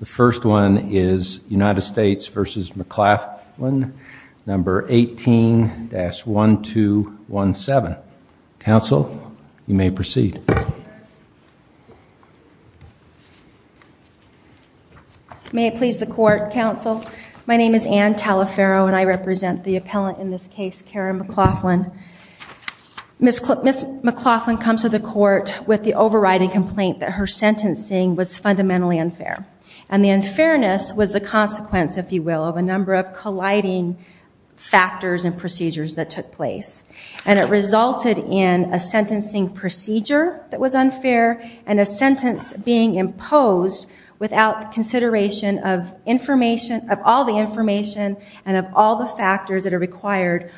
The first one is United States v. McClaflin, number 18-1217. Counsel, you may proceed. May it please the court, counsel. My name is Anne Talaferro and I represent the appellant in this case, Karen McClaflin. Miss McClaflin comes to the court with the overriding complaint that her sentencing was fundamentally unfair. And the unfairness was the consequence, if you will, of a number of colliding factors and procedures that took place. And it resulted in a sentencing procedure that was unfair and a sentence being imposed without consideration of all the information and of all the factors that are required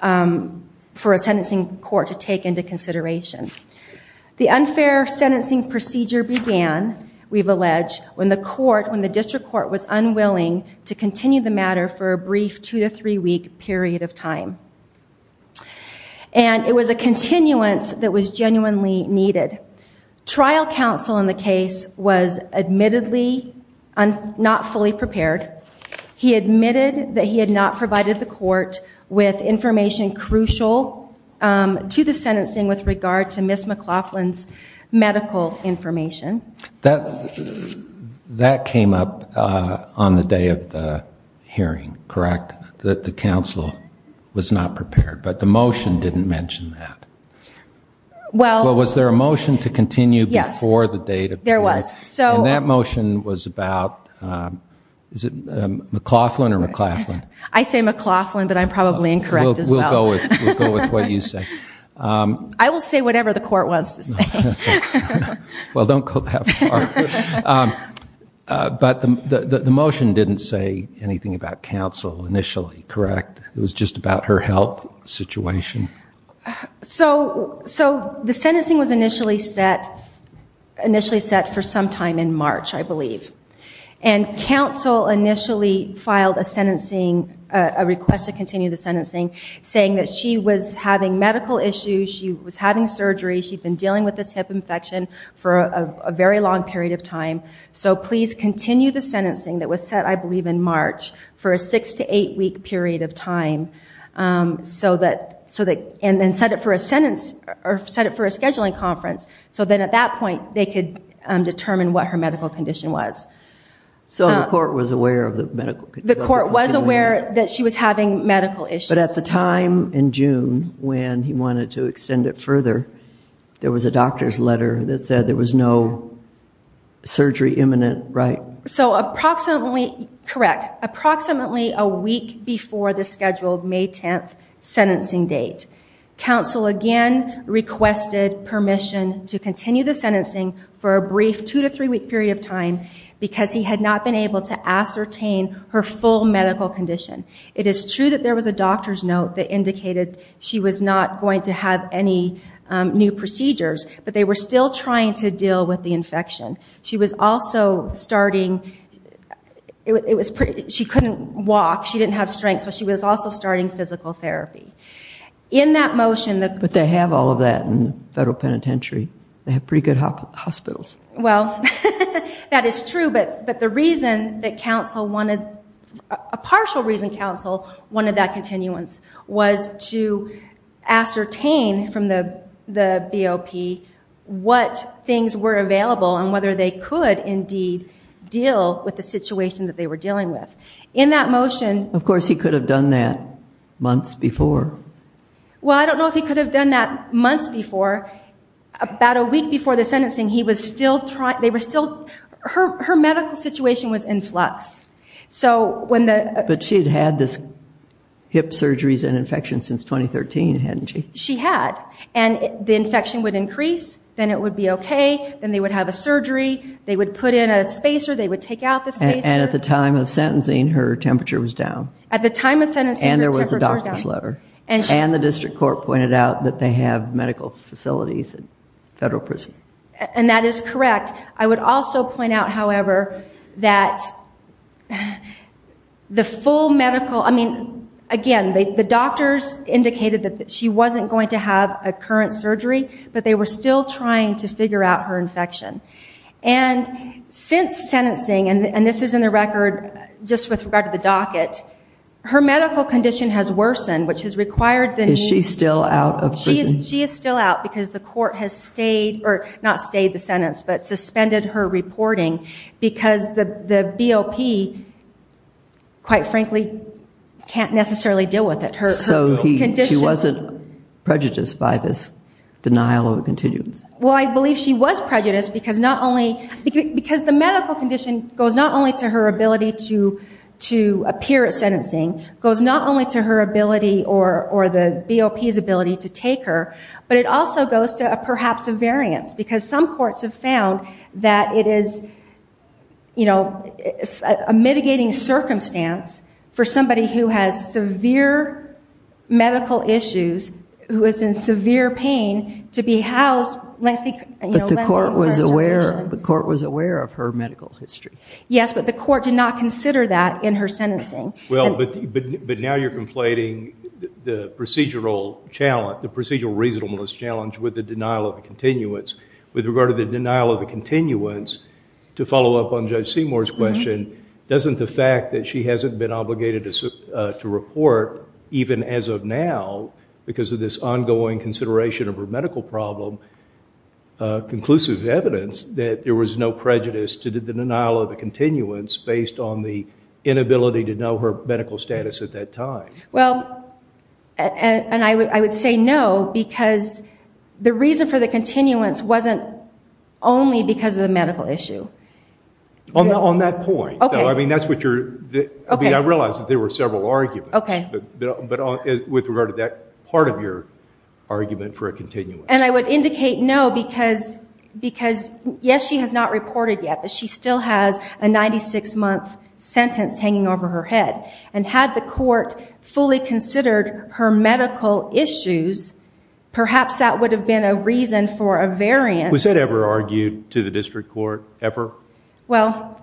for a sentencing court to take into consideration. The unfair sentencing procedure began, we've alleged, when the court, when the district court was unwilling to continue the matter for a brief two to three week period of time. And it was a continuance that was genuinely needed. Trial counsel in the case was admittedly not fully prepared. He admitted that he had not provided the court with information crucial to the sentencing with regard to Miss McClaflin's medical information. That came up on the day of the hearing, correct? That the counsel was not prepared. But the motion didn't mention that. Well. Well, was there a motion to continue before the date of hearing? Yes, there was. And that motion was about, is it McClaflin or McClaflin? I say McClaflin, but I'm probably incorrect as well. We'll go with what you say. I will say whatever the court wants to say. Well, don't go that far. But the motion didn't say anything about counsel initially, correct? It was just about her health situation? So the sentencing was initially set for some time in March, I believe. And counsel initially filed a sentencing, a request to continue the sentencing. Saying that she was having medical issues. She was having surgery. She'd been dealing with this hip infection for a very long period of time. So please continue the sentencing that was set, I believe, in March. For a six to eight week period of time. So that, and then set it for a sentence, or set it for a scheduling conference. So then at that point, they could determine what her medical condition was. So the court was aware of the medical condition? The court was aware that she was having medical issues. But at the time in June, when he wanted to extend it further. There was a doctor's letter that said there was no surgery imminent, right? So approximately, correct. Approximately a week before the scheduled May 10th sentencing date. Counsel again requested permission to continue the sentencing. For a brief two to three week period of time. Because he had not been able to ascertain her full medical condition. It is true that there was a doctor's note that indicated she was not going to have any new procedures. But they were still trying to deal with the infection. She was also starting, she couldn't walk. She didn't have strength. So she was also starting physical therapy. In that motion. But they have all of that in the federal penitentiary. They have pretty good hospitals. Well, that is true. But the reason that counsel wanted, a partial reason counsel wanted that continuance. Was to ascertain from the BOP what things were available. And whether they could indeed deal with the situation that they were dealing with. In that motion. Of course, he could have done that months before. Well, I don't know if he could have done that months before. About a week before the sentencing. He was still trying, they were still, her medical situation was in flux. So when the. But she had had this hip surgeries and infections since 2013, hadn't she? She had. And the infection would increase. Then it would be okay. Then they would have a surgery. They would put in a spacer. They would take out the spacer. And at the time of sentencing, her temperature was down. At the time of sentencing, her temperature was down. And there was a doctor's letter. And the district court pointed out that they have medical facilities at federal prison. And that is correct. I would also point out, however, that the full medical. I mean, again, the doctors indicated that she wasn't going to have a current surgery. But they were still trying to figure out her infection. And since sentencing, and this is in the record, just with regard to the docket. Her medical condition has worsened, which has required the. Is she still out of prison? She is still out because the court has stayed. Or not stayed the sentence, but suspended her reporting. Because the BOP, quite frankly, can't necessarily deal with it. So she wasn't prejudiced by this denial of a continuance? Well, I believe she was prejudiced because not only. Because the medical condition goes not only to her ability to appear at sentencing. Goes not only to her ability or the BOP's ability to take her. But it also goes to perhaps a variance. Because some courts have found that it is a mitigating circumstance for somebody who has severe medical issues, who is in severe pain, to be housed. But the court was aware of her medical history. Yes, but the court did not consider that in her sentencing. Well, but now you're conflating the procedural challenge, the procedural reasonableness challenge with the denial of a continuance. With regard to the denial of a continuance, to follow up on Judge Seymour's question, doesn't the fact that she hasn't been obligated to report, even as of now, because of this ongoing consideration of her medical problem, conclusive evidence that there was no prejudice to the denial of a continuance based on the inability to know her medical status at that time? Well, and I would say no, because the reason for the continuance wasn't only because of the medical issue. On that point, though, I mean, that's what you're, I mean, I realize that there were several arguments. Okay. But with regard to that part of your argument for a continuance. And I would indicate no, because yes, she has not reported yet, she still has a 96-month sentence hanging over her head. And had the court fully considered her medical issues, perhaps that would have been a reason for a variance. Was that ever argued to the district court, ever? Well,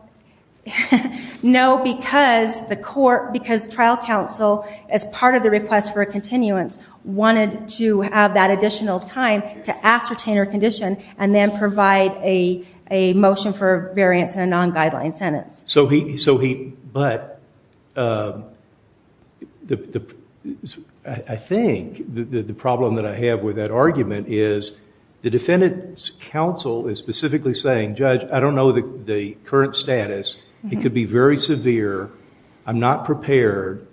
no, because the court, because trial counsel, as part of the request for a continuance, wanted to have that additional time to ascertain her condition and then provide a motion for a variance in a non-guideline sentence. So he, but I think the problem that I have with that argument is the defendant's counsel is specifically saying, Judge, I don't know the current status. It could be very severe. I'm not prepared.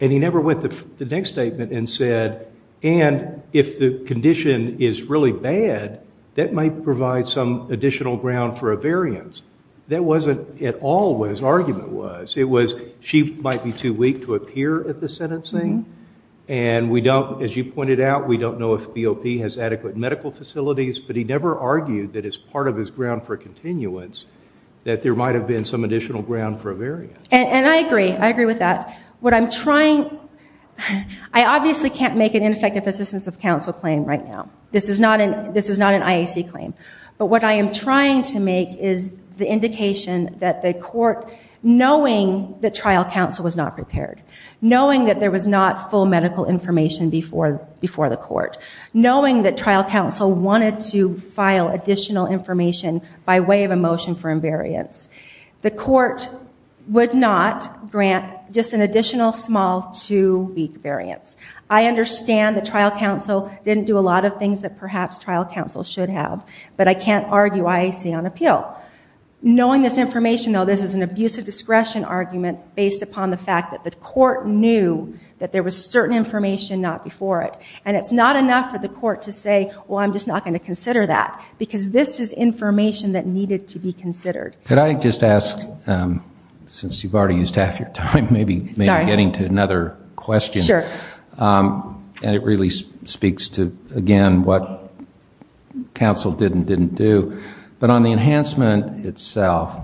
And he never went to the next statement and said, and if the condition is really bad, that might provide some additional ground for a variance. That wasn't at all what his argument was. It was, she might be too weak to appear at the sentencing. And we don't, as you pointed out, we don't know if BOP has adequate medical facilities. But he never argued that as part of his ground for continuance, that there might have been some additional ground for a variance. And I agree, I agree with that. What I'm trying, I obviously can't make an ineffective assistance of counsel claim right now. This is not an IAC claim. But what I am trying to make is the indication that the court, knowing that trial counsel was not prepared, knowing that there was not full medical information before the court, knowing that trial counsel wanted to file additional information by way of a motion for invariance, the court would not grant just an additional small two-week variance. I understand that trial counsel didn't do a lot of things that perhaps trial counsel should have. But I can't argue IAC on appeal. Knowing this information, though, this is an abuse of discretion argument based upon the fact that the court knew that there was certain information not before it. And it's not enough for the court to say, well, I'm just not going to consider that. Because this is information that needed to be considered. Could I just ask, since you've already used half your time, maybe getting to another question. Sure. And it really speaks to, again, what counsel did and didn't do. But on the enhancement itself,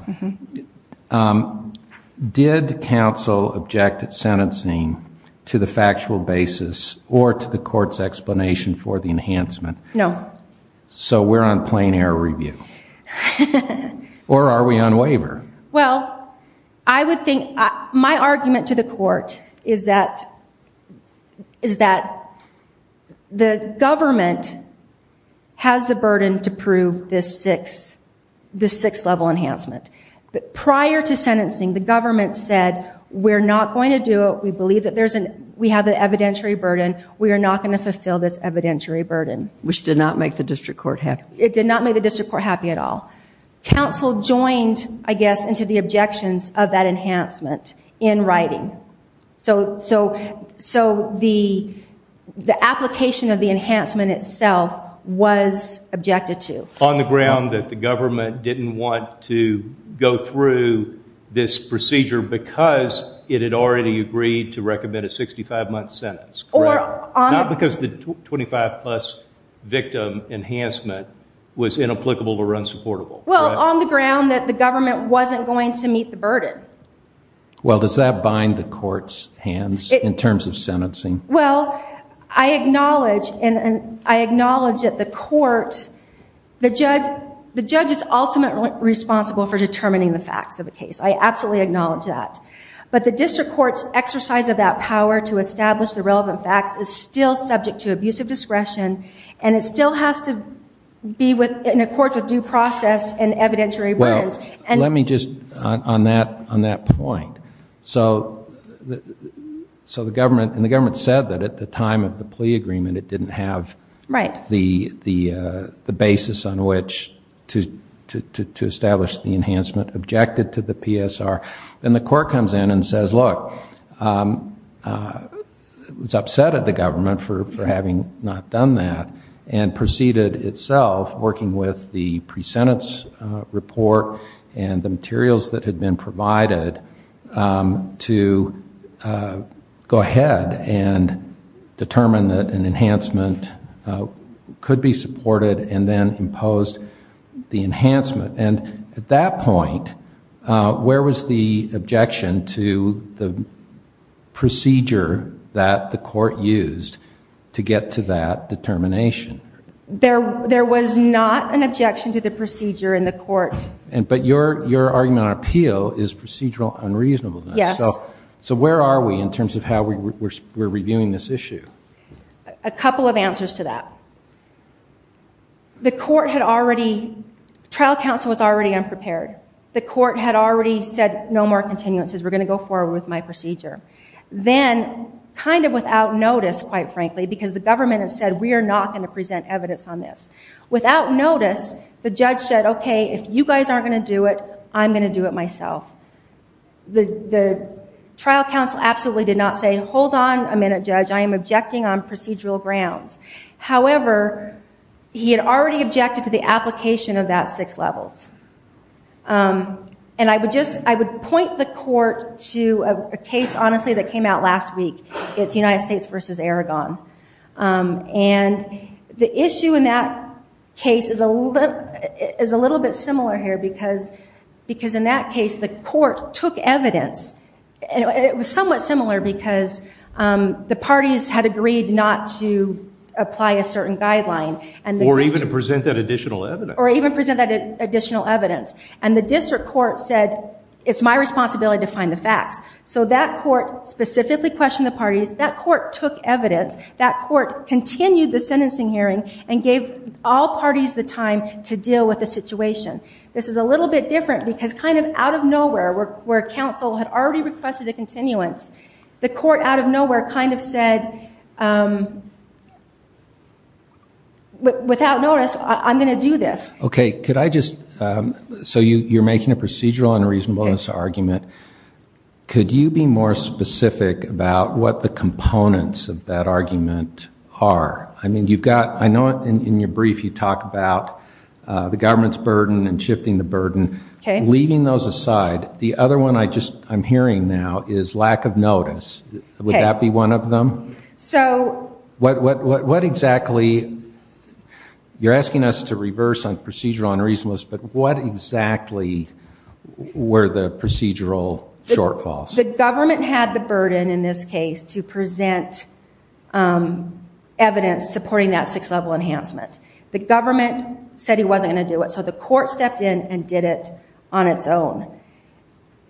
did counsel object at sentencing to the factual basis or to the court's explanation for the enhancement? No. So we're on plain error review. Or are we on waiver? Well, I would think, my argument to the court is that the government has the burden to prove this six-level enhancement. But prior to sentencing, the government said, we're not going to do it. We believe that we have an evidentiary burden. We are not going to fulfill this evidentiary burden. Which did not make the district court happy. It did not make the district court happy at all. Counsel joined, I guess, into the objections of that enhancement in writing. So the application of the enhancement itself was objected to. On the ground that the government didn't want to go through this procedure because it had already agreed to recommend a 65-month sentence. Correct. Not because the 25-plus victim enhancement was inapplicable or unsupportable. Well, on the ground that the government wasn't going to meet the burden. Well, does that bind the court's hands in terms of sentencing? Well, I acknowledge that the court, the judge is ultimately responsible for determining the facts of a case. I absolutely acknowledge that. But the district court's exercise of that power to establish the relevant facts is still subject to abusive discretion and it still has to be in accord with due process and evidentiary burdens. Well, let me just, on that point. So the government said that at the time of the plea agreement it didn't have the basis on which to establish the enhancement. Objected to the PSR. And the court comes in and says, look, it was upset at the government for having not done that and proceeded itself, working with the pre-sentence report and the materials that had been provided to go ahead and determine that an enhancement could be supported and then imposed the enhancement. And at that point, where was the objection to the procedure that the court used to get to that determination? There was not an objection to the procedure in the court. But your argument on appeal is procedural unreasonableness. Yes. So where are we in terms of how we're reviewing this issue? A couple of answers to that. The court had already... Trial counsel was already unprepared. The court had already said, no more continuances, we're going to go forward with my procedure. Then, kind of without notice, quite frankly, because the government had said, we are not going to present evidence on this. Without notice, the judge said, OK, if you guys aren't going to do it, I'm going to do it myself. The trial counsel absolutely did not say, hold on a minute, judge, I am objecting on procedural grounds. However, he had already objected to the application of that six levels. And I would point the court to a case, honestly, that came out last week. It's United States v. Aragon. And the issue in that case is a little bit similar here because in that case, the court took evidence. It was somewhat similar because the parties had agreed not to apply a certain guideline. Or even to present that additional evidence. Or even present that additional evidence. And the district court said, it's my responsibility to find the facts. So that court specifically questioned the parties. That court took evidence. That court continued the sentencing hearing and gave all parties the time to deal with the situation. This is a little bit different because kind of out of nowhere, where counsel had already requested a continuance, the court out of nowhere kind of said, without notice, I'm going to do this. Okay, so you're making a procedural and a reasonableness argument. Could you be more specific about what the components of that argument are? I know in your brief you talk about the government's burden and shifting the burden. Leaving those aside, the other one I'm hearing now is lack of notice. Would that be one of them? What exactly, you're asking us to reverse on procedural and reasonableness, but what exactly were the procedural shortfalls? The government had the burden in this case to present evidence supporting that 6th level enhancement. The government said he wasn't going to do it. The court stepped in and did it on its own.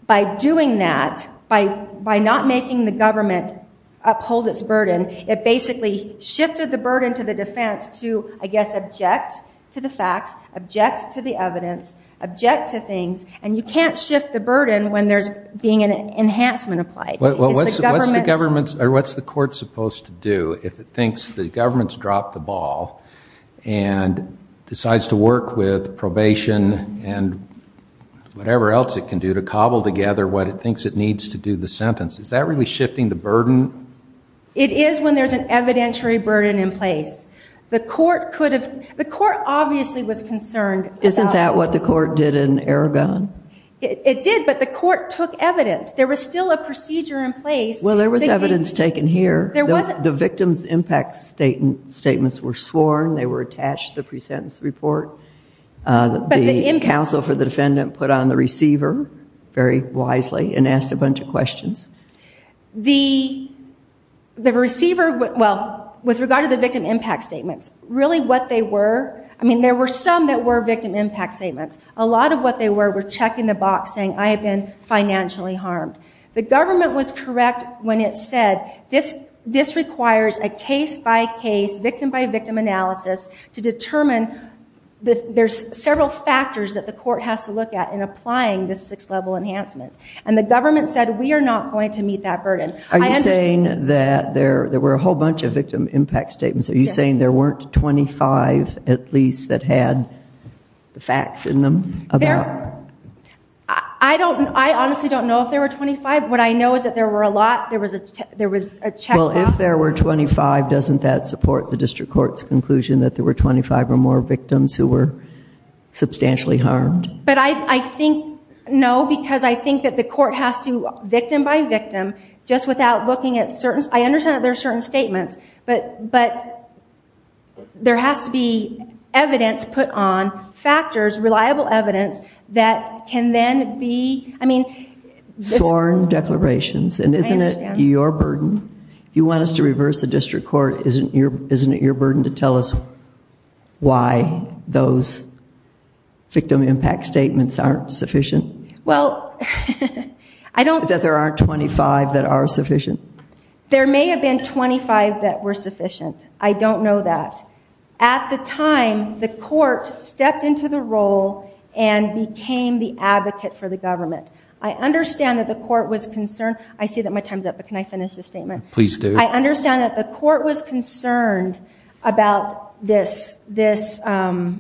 By doing that, by not making the government uphold its burden, it basically shifted the burden to the defense to, I guess, object to the facts, object to the evidence, object to things, and you can't shift the burden when there's being an enhancement applied. What's the court supposed to do if it thinks the government's dropped the ball and decides to work with probation and whatever else it can do to cobble together what it thinks it needs to do the sentence? Is that really shifting the burden? It is when there's an evidentiary burden in place. The court obviously was concerned. Isn't that what the court did in Aragon? It did, but the court took evidence. There was still a procedure in place. Well, there was evidence taken here. The victim's impact statements were sworn. They were attached to the pre-sentence report. The counsel for the defendant put on the receiver very wisely and asked a bunch of questions. The receiver, well, with regard to the victim impact statements, really what they were, there were some that were victim impact statements. A lot of what they were were checking the box saying, I have been financially harmed. The government was correct when it said, this requires a case-by-case, victim-by-victim analysis to determine there's several factors that the court has to look at in applying this sixth level enhancement. The government said, we are not going to meet that burden. Are you saying that there were a whole bunch of victim impact statements? Are you saying there weren't 25 at least that had the facts in them? I honestly don't know if there were 25. What I know is that there were a lot. If there were 25, doesn't that support the district court's conclusion that there were 25 or more victims who were substantially harmed? But I think, no, because I think that the court has to victim-by-victim, just without looking at certain, I understand that there are certain statements, but there has to be evidence put on, factors, reliable evidence that can then be, I mean I understand. If you want us to reverse the district court, isn't it your burden to tell us why those victim impact statements aren't sufficient? Well, I don't There aren't 25 that are sufficient? There may have been 25 that were sufficient. I don't know that. At the time the court stepped into the role and became the advocate for the government. I understand that the court was concerned I see that my time's up, but can I finish this statement? I understand that the court was concerned about this the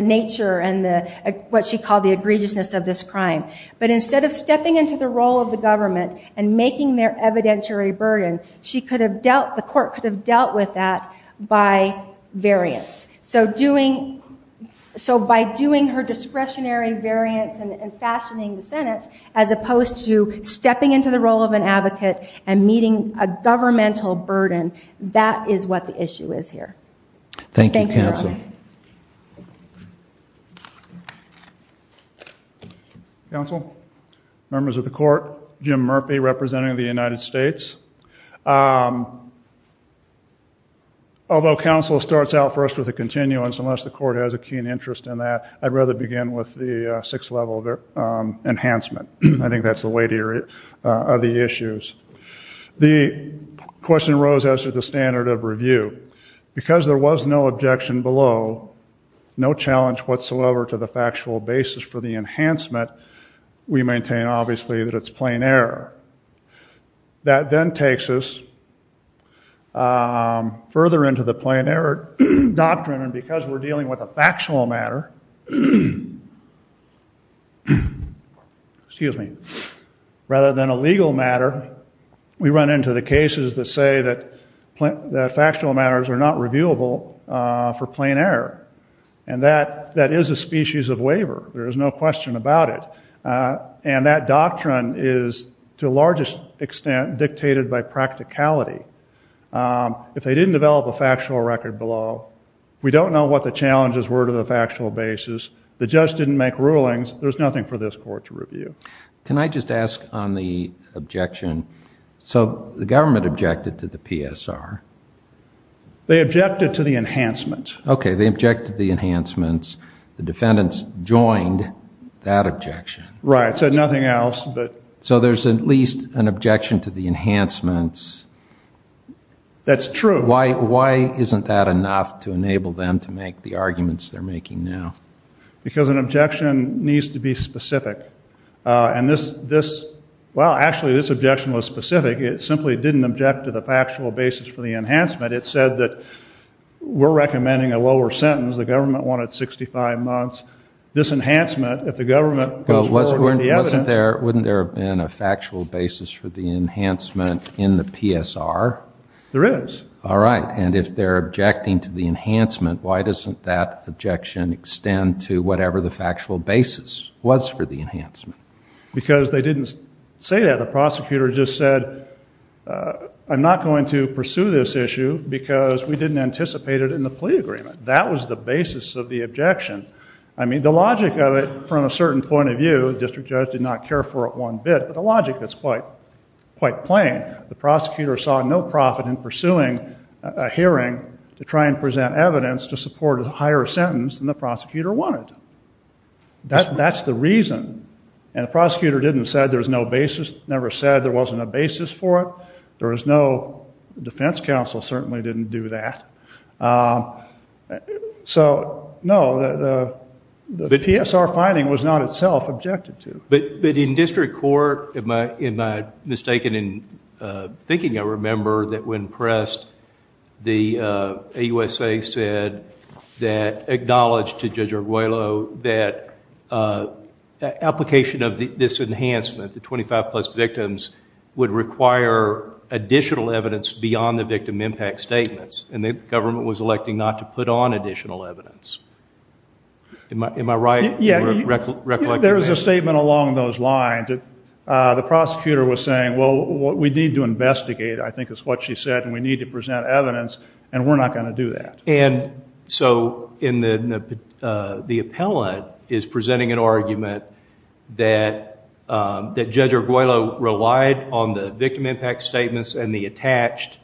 nature and what she called the egregiousness of this crime. But instead of stepping into the role of the government and making their evidentiary burden, she could have dealt, the court could have dealt with that by variance. So doing her discretionary variance and fashioning the sentence, as opposed to stepping into the role of an advocate and meeting a governmental burden, that is what the issue is here. Thank you, counsel. Counsel? Members of the court, Jim Murphy, representing the United States. Although counsel starts out first with a continuance, unless the court has a keen interest in that, I'd rather begin with the sixth level of enhancement. I think that's the weight of the issues. The question arose as to the standard of review. Because there was no objection below, no challenge whatsoever to the factual basis for the enhancement, we maintain, obviously, that it's plain error. That then takes us further into the plain error doctrine, and because we're dealing with a factual matter rather than a legal matter, we run into the cases that say that factual matters are not reviewable for plain error. That is a species of waiver. There is no question about it. That doctrine is, to a large extent, dictated by practicality. If they didn't develop a factual record below, we don't know what the factual basis, the judge didn't make rulings, there's nothing for this court to review. Can I just ask on the objection? The government objected to the PSR. They objected to the enhancement. They objected to the enhancements. The defendants joined that objection. There's at least an objection to the enhancements. That's true. Why isn't that enough to enable them to make the arguments they're making now? Because an objection needs to be specific. Actually, this objection was specific. It simply didn't object to the factual basis for the enhancement. It said that we're recommending a lower sentence. The government wanted 65 months. This enhancement, if the government goes forward with the evidence... Wouldn't there have been a factual basis for the enhancement in the PSR? There is. All right. And if they're objecting to the enhancement, why doesn't that objection extend to whatever the factual basis was for the enhancement? Because they didn't say that. The prosecutor just said I'm not going to pursue this issue because we didn't anticipate it in the plea agreement. That was the basis of the objection. The logic of it, from a certain point of view, the district judge did not care for it one bit, but the logic is quite plain. The prosecutor saw no profit in pursuing a hearing to try and present evidence to support a higher sentence than the prosecutor wanted. That's the reason. And the prosecutor didn't say there's no basis, never said there wasn't a basis for it. There was no... The defense counsel certainly didn't do that. So, no. The PSR finding was not itself objected to. But in district court, am I mistaken in thinking I remember that when pressed the AUSA said that, acknowledged to Judge Arguello, that application of this enhancement, the 25 plus victims, would require additional evidence beyond the victim impact statements. And the government was electing not to put on additional evidence. Am I right? There was a statement along those lines. The prosecutor was saying, well, we need to investigate, I think is what she said, and we need to present evidence and we're not going to do that. And so, the appellant is presenting an argument that Judge Arguello relied on the victim impact statements and the attached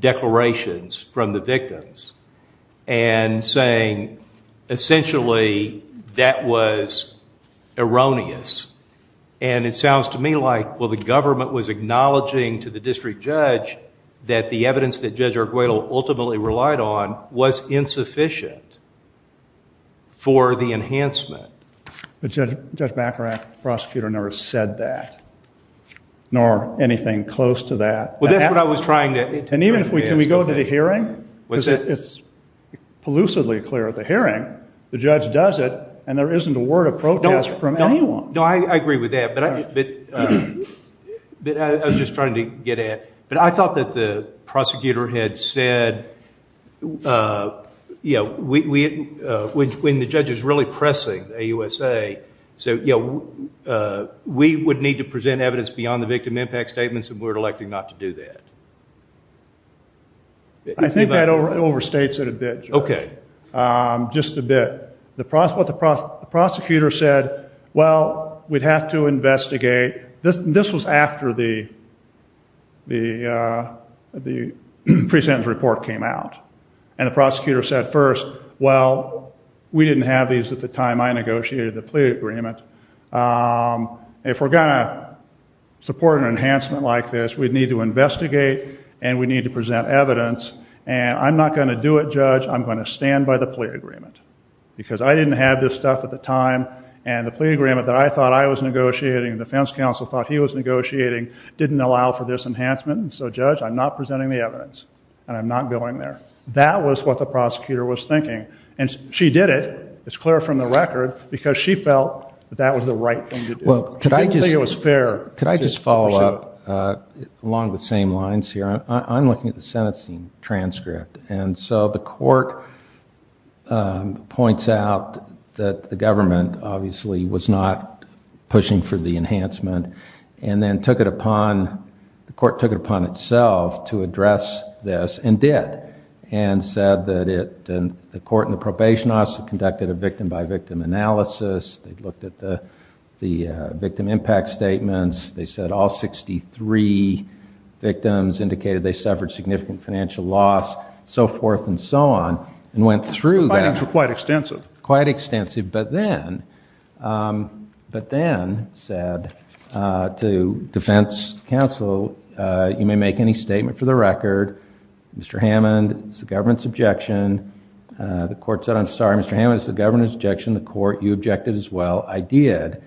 declarations from the victims and saying essentially that was erroneous. And it sounds to me like the government was acknowledging to the district judge that the evidence that Judge Arguello ultimately relied on was insufficient for the enhancement. Judge Baccarat, prosecutor, never said that. Nor anything close to that. Can we go to the hearing? It's elusively clear at the hearing. The judge does it and there isn't a word of protest from anyone. I agree with that, but I was just trying to get at but I thought that the prosecutor had said when the judge is really pressing AUSA, we would need to present evidence beyond the victim impact statements and we're electing not to do that. I think that overstates it a bit, Judge. Okay. Just a bit. The prosecutor said, well, we'd have to investigate. This was after the pre-sentence report came out. And the prosecutor said first, well, we didn't have these at the time I negotiated the plea agreement. If we're going to support an enhancement like this, we'd need to investigate and we'd need to present evidence and I'm not going to do it, Judge. I'm going to stand by the plea agreement because I didn't have this stuff at the time and the plea agreement that I thought I was negotiating, the defense counsel thought he was negotiating, didn't allow for this enhancement and so, Judge, I'm not presenting the evidence and I'm not going there. That was what the prosecutor was thinking and she did it. It's clear from the record because she felt that that was the right thing to do. She didn't think it was fair. Could I just follow up along the same lines here? I'm looking at the sentencing transcript and so the court points out that the government obviously was not pushing for the enhancement and then took it upon, the court took it upon itself to address this and did and said that the court and the probation office conducted a victim by victim analysis. They looked at the victim impact statements. They said all 63 victims indicated they suffered significant financial loss, so forth and so on and went through that. The findings were quite extensive. Quite extensive, but then but then said to defense counsel you may make any statement for the record. Mr. Hammond, it's the government's objection. The court said I'm sorry, Mr. Hammond, it's the government's objection. The court, you objected as well. I did.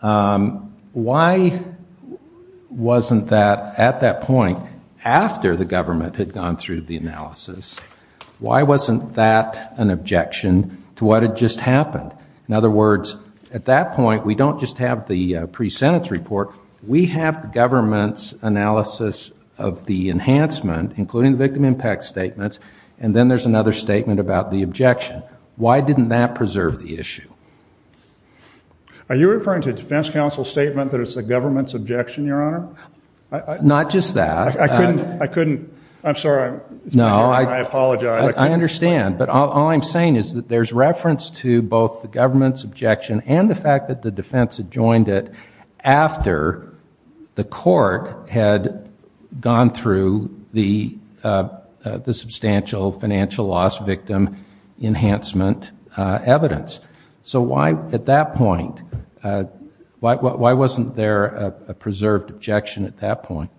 Why wasn't that at that point, after the government had gone through the analysis, why wasn't that an objection to what had just happened? In other words, at that point, we don't just have the pre-sentence report, we have the government's analysis of the enhancement, including the victim impact statements, and then there's another statement about the objection. Why didn't that preserve the issue? Are you referring to defense counsel's statement that it's the government's objection? Not just that. I'm sorry. I apologize. I understand. But all I'm saying is that there's reference to both the government's objection and the fact that the defense had joined it after the court had gone through the substantial financial loss victim enhancement evidence. So why at that point why wasn't there a preserved objection at that point?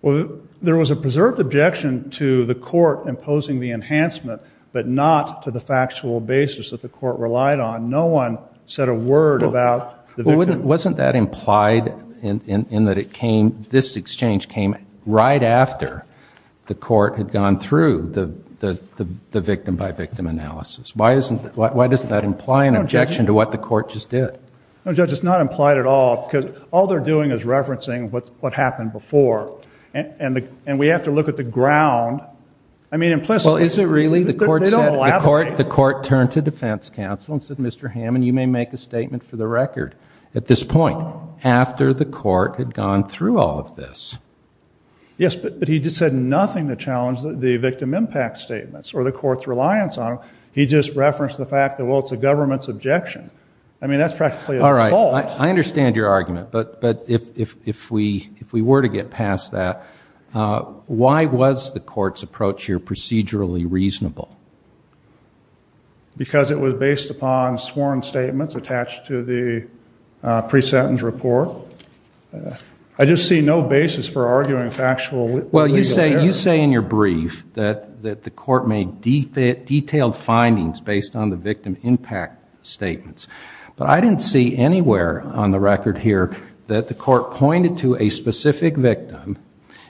Well, there was a preserved objection to the court imposing the enhancement, but not to the factual basis that the court relied on. No one said a word about the victim. Wasn't that implied in that this exchange came right after the court had gone through the victim-by-victim analysis? Why doesn't that imply an objection to what the court just did? No, Judge, it's not implied at all because all they're doing is referencing what happened before. And we have to look at the ground. I mean, implicitly. Well, is it really? The court turned to defense counsel and said, Mr. Hammond, you may make a statement for the record at this point, after the court had gone through all of this. Yes, but he just said statements or the court's reliance on them. He just referenced the fact that, well, it's a government's objection. I mean, that's practically a default. I understand your argument, but if we were to get past that, why was the court's approach here procedurally reasonable? Because it was based upon sworn statements attached to the pre-sentence report. I just see no basis for arguing factual... Well, you say in your brief that the court made detailed findings based on the victim impact statements. But I didn't see anywhere on the record here that the court pointed to a specific victim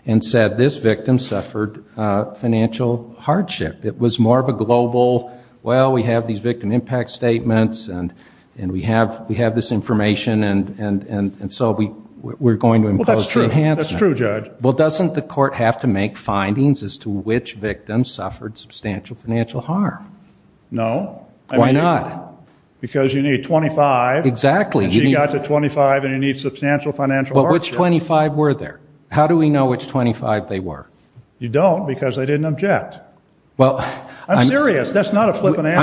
and said this victim suffered financial hardship. It was more of a global well, we have these victim impact statements and we have this information and so we're going to impose the enhancement. Well, that's true, Judge. Well, doesn't the court have to make findings as to which victim suffered substantial financial harm? No. Why not? Because you need 25. Exactly. You got to 25 and you need substantial financial hardship. But which 25 were there? How do we know which 25 they were? You don't because they didn't object. I'm serious. That's not a flippant answer.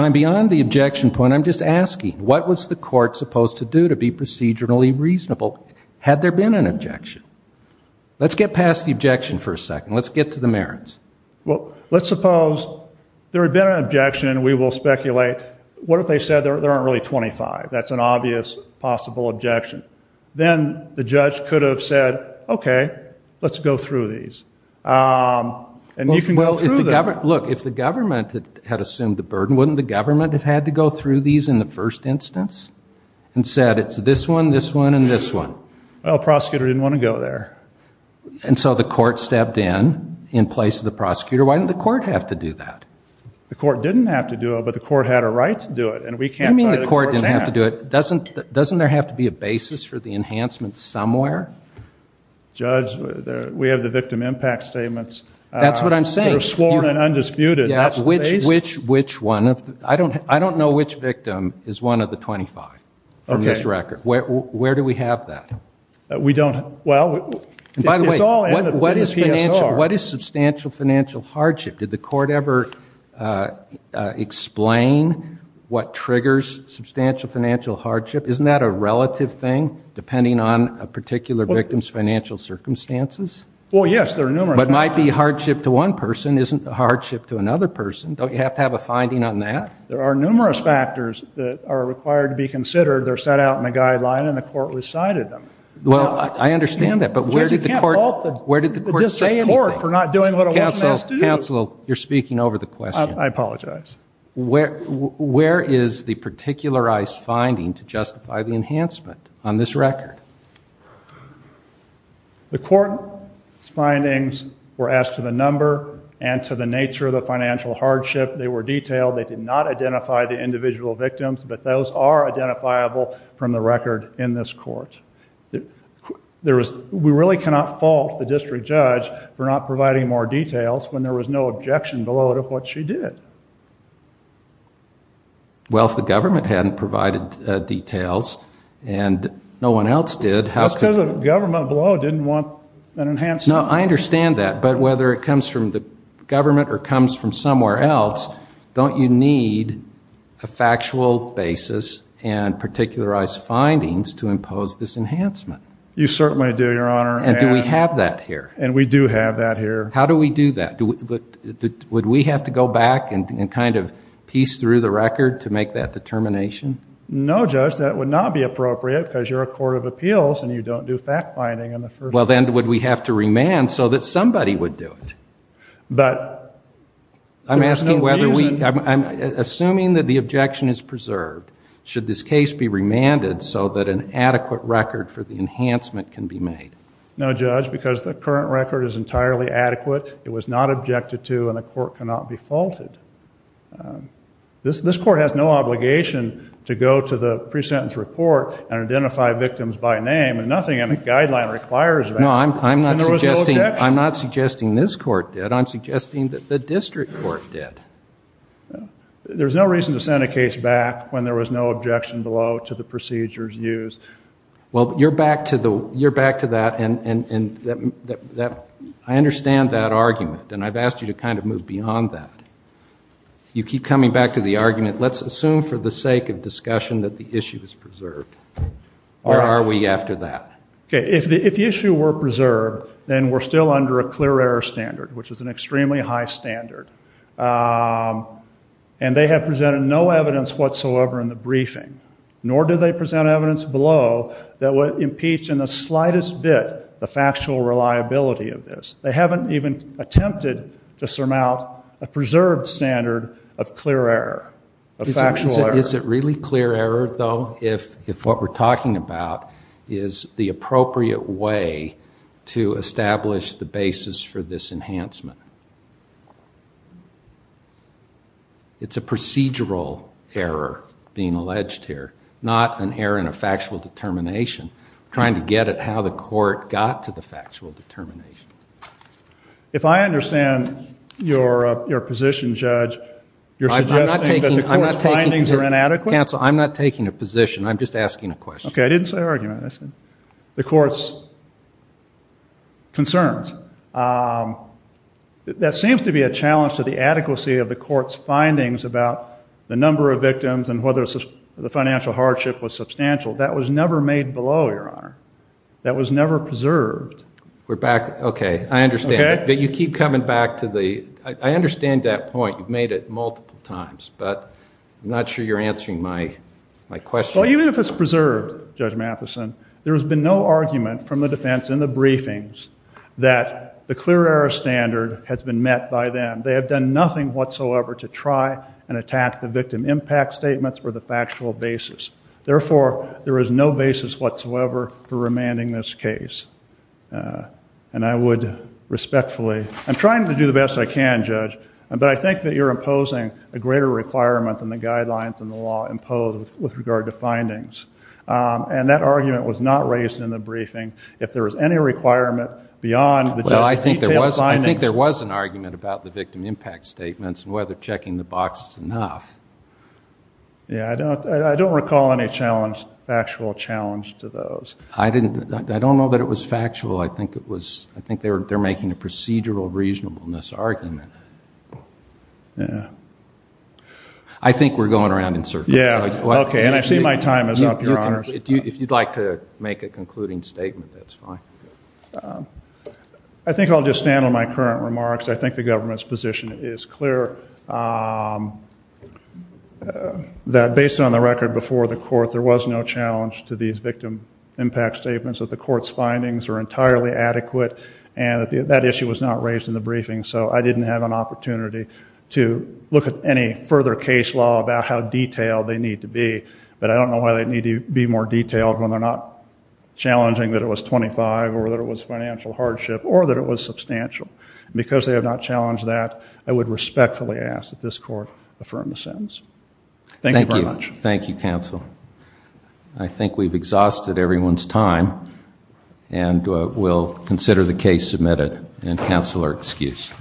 I'm beyond the objection point. I'm just asking, what was the court supposed to do to be procedurally reasonable had there been an objection? Let's get past the objection for a second. Let's get to the merits. Well, let's suppose there had been an objection and we will speculate, what if they said there aren't really 25? That's an obvious possible objection. Then the judge could have said, okay, let's go through these. And you can go through them. Look, if the government had assumed the burden, wouldn't the government have had to go through these in the first instance and said it's this one, this one and this one? Well, the prosecutor didn't want to go there. And so the court stepped in, in place of the prosecutor. Why didn't the court have to do that? The court didn't have to do it, but the court had a right to do it. What do you mean the court didn't have to do it? Doesn't there have to be a basis for the enhancement somewhere? Judge, we have the victim impact statements. That's what I'm saying. They're sworn and undisputed. Which one? I don't know which victim is one of the 25 from this record. Where do we have that? By the way, what is substantial financial hardship? Did the court ever explain what triggers substantial financial hardship? Isn't that a relative thing, depending on a particular victim's financial circumstances? Well, yes, there are numerous factors. But it might be hardship to one person, isn't hardship to another person. Don't you have to have a finding on that? There are numerous factors that are required to be considered. They're set out in the guideline, and the court recited them. Well, I understand that, but where did the court say anything? Counsel, you're speaking over the question. I apologize. Where is the particularized finding to justify the enhancement on this record? The court's findings were asked to the number and to the nature of the financial hardship. They were detailed. They did not identify the individual victims, but those are identifiable from the record in this court. We really cannot fault the district judge for not providing more details when there was no objection below to what she did. Well, if the government hadn't provided details, and no one else did, how could the government below didn't want an enhanced... No, I understand that, but whether it comes from the government or comes from somewhere else, don't you need a factual basis and particularized findings to impose this enhancement? You certainly do, Your Honor. And do we have that here? And we do have that here. How do we do that? Would we have to go back and kind of piece through the record to make that determination? No, Judge, that would not be appropriate because you're a court of appeals and you don't do fact-finding in the first place. Well, then would we have to remand so that somebody would do it? But... I'm asking whether we... I'm assuming that the objection is preserved. Should this case be remanded so that an adequate record for the enhancement can be made? No, Judge, because the current record is entirely adequate. It was not objected to and the court cannot be faulted. This court has no obligation to go to the pre-sentence report Nothing in the guideline requires that. No, I'm not suggesting... And there was no objection. The district court did. I'm suggesting that the district court did. There's no reason to send a case back when there was no objection below to the procedures used. Well, you're back to that and that... I understand that argument and I've asked you to kind of move beyond that. You keep coming back to the argument. Let's assume for the sake of discussion that the issue is preserved. Where are we after that? If the issue were preserved then we're still under a clear error standard, which is an extremely high standard. And they have presented no evidence whatsoever in the briefing. Nor do they present evidence below that would impeach in the slightest bit the factual reliability of this. They haven't even attempted to surmount a preserved standard of clear error. Is it really clear error, though, if what we're talking about is the to establish the basis for this enhancement? It's a procedural error being alleged here. Not an error in a factual determination. Trying to get at how the court got to the factual determination. If I understand your position, Judge, you're suggesting that the court's findings are inadequate? Counsel, I'm not taking a position. I'm just asking a question. Okay, I didn't say argument. I said the court's concerns. That seems to be a challenge to the adequacy of the court's findings about the number of victims and whether the financial hardship was substantial. That was never made below, Your Honor. That was never preserved. Okay, I understand. But you keep coming back to the... I understand that point. You've made it multiple times, but I'm not sure you're answering my question. Well, even if it's preserved, Judge Matheson, there has been no argument from the defense in the briefings that the clear error standard has been met by them. They have done nothing whatsoever to try and attack the victim impact statements or the factual basis. Therefore, there is no basis whatsoever for remanding this case. And I would respectfully... I'm trying to do the best I can, Judge, but I think that you're imposing a greater requirement than the guidelines and the law impose with regard to findings. And that argument was not raised in the briefing. If there is any requirement beyond the detailed findings... Well, I think there was an argument about the victim impact statements and whether checking the box is enough. Yeah, I don't recall any factual challenge to those. I don't know that it was factual. I think they're making a procedural reasonableness argument. Yeah. I think we're going around in circles. Yeah, okay. And I see my time is up, Your Honor. If you'd like to make a concluding statement, that's fine. I think I'll just stand on my current remarks. I think the government's position is clear. That based on the record before the court, there was no challenge to these victim impact statements, that the court's findings are entirely adequate, and that issue was not raised in the briefing. So I didn't have an opportunity to look at any further case law about how detailed they need to be, but I don't know why they need to be more detailed when they're not challenging that it was 25, or that it was financial hardship, or that it was substantial. Because they have not challenged that, I would respectfully ask that this court affirm the sentence. Thank you very much. Thank you, counsel. I think we've exhausted everyone's time, and we'll consider the case submitted, and counsel are excused.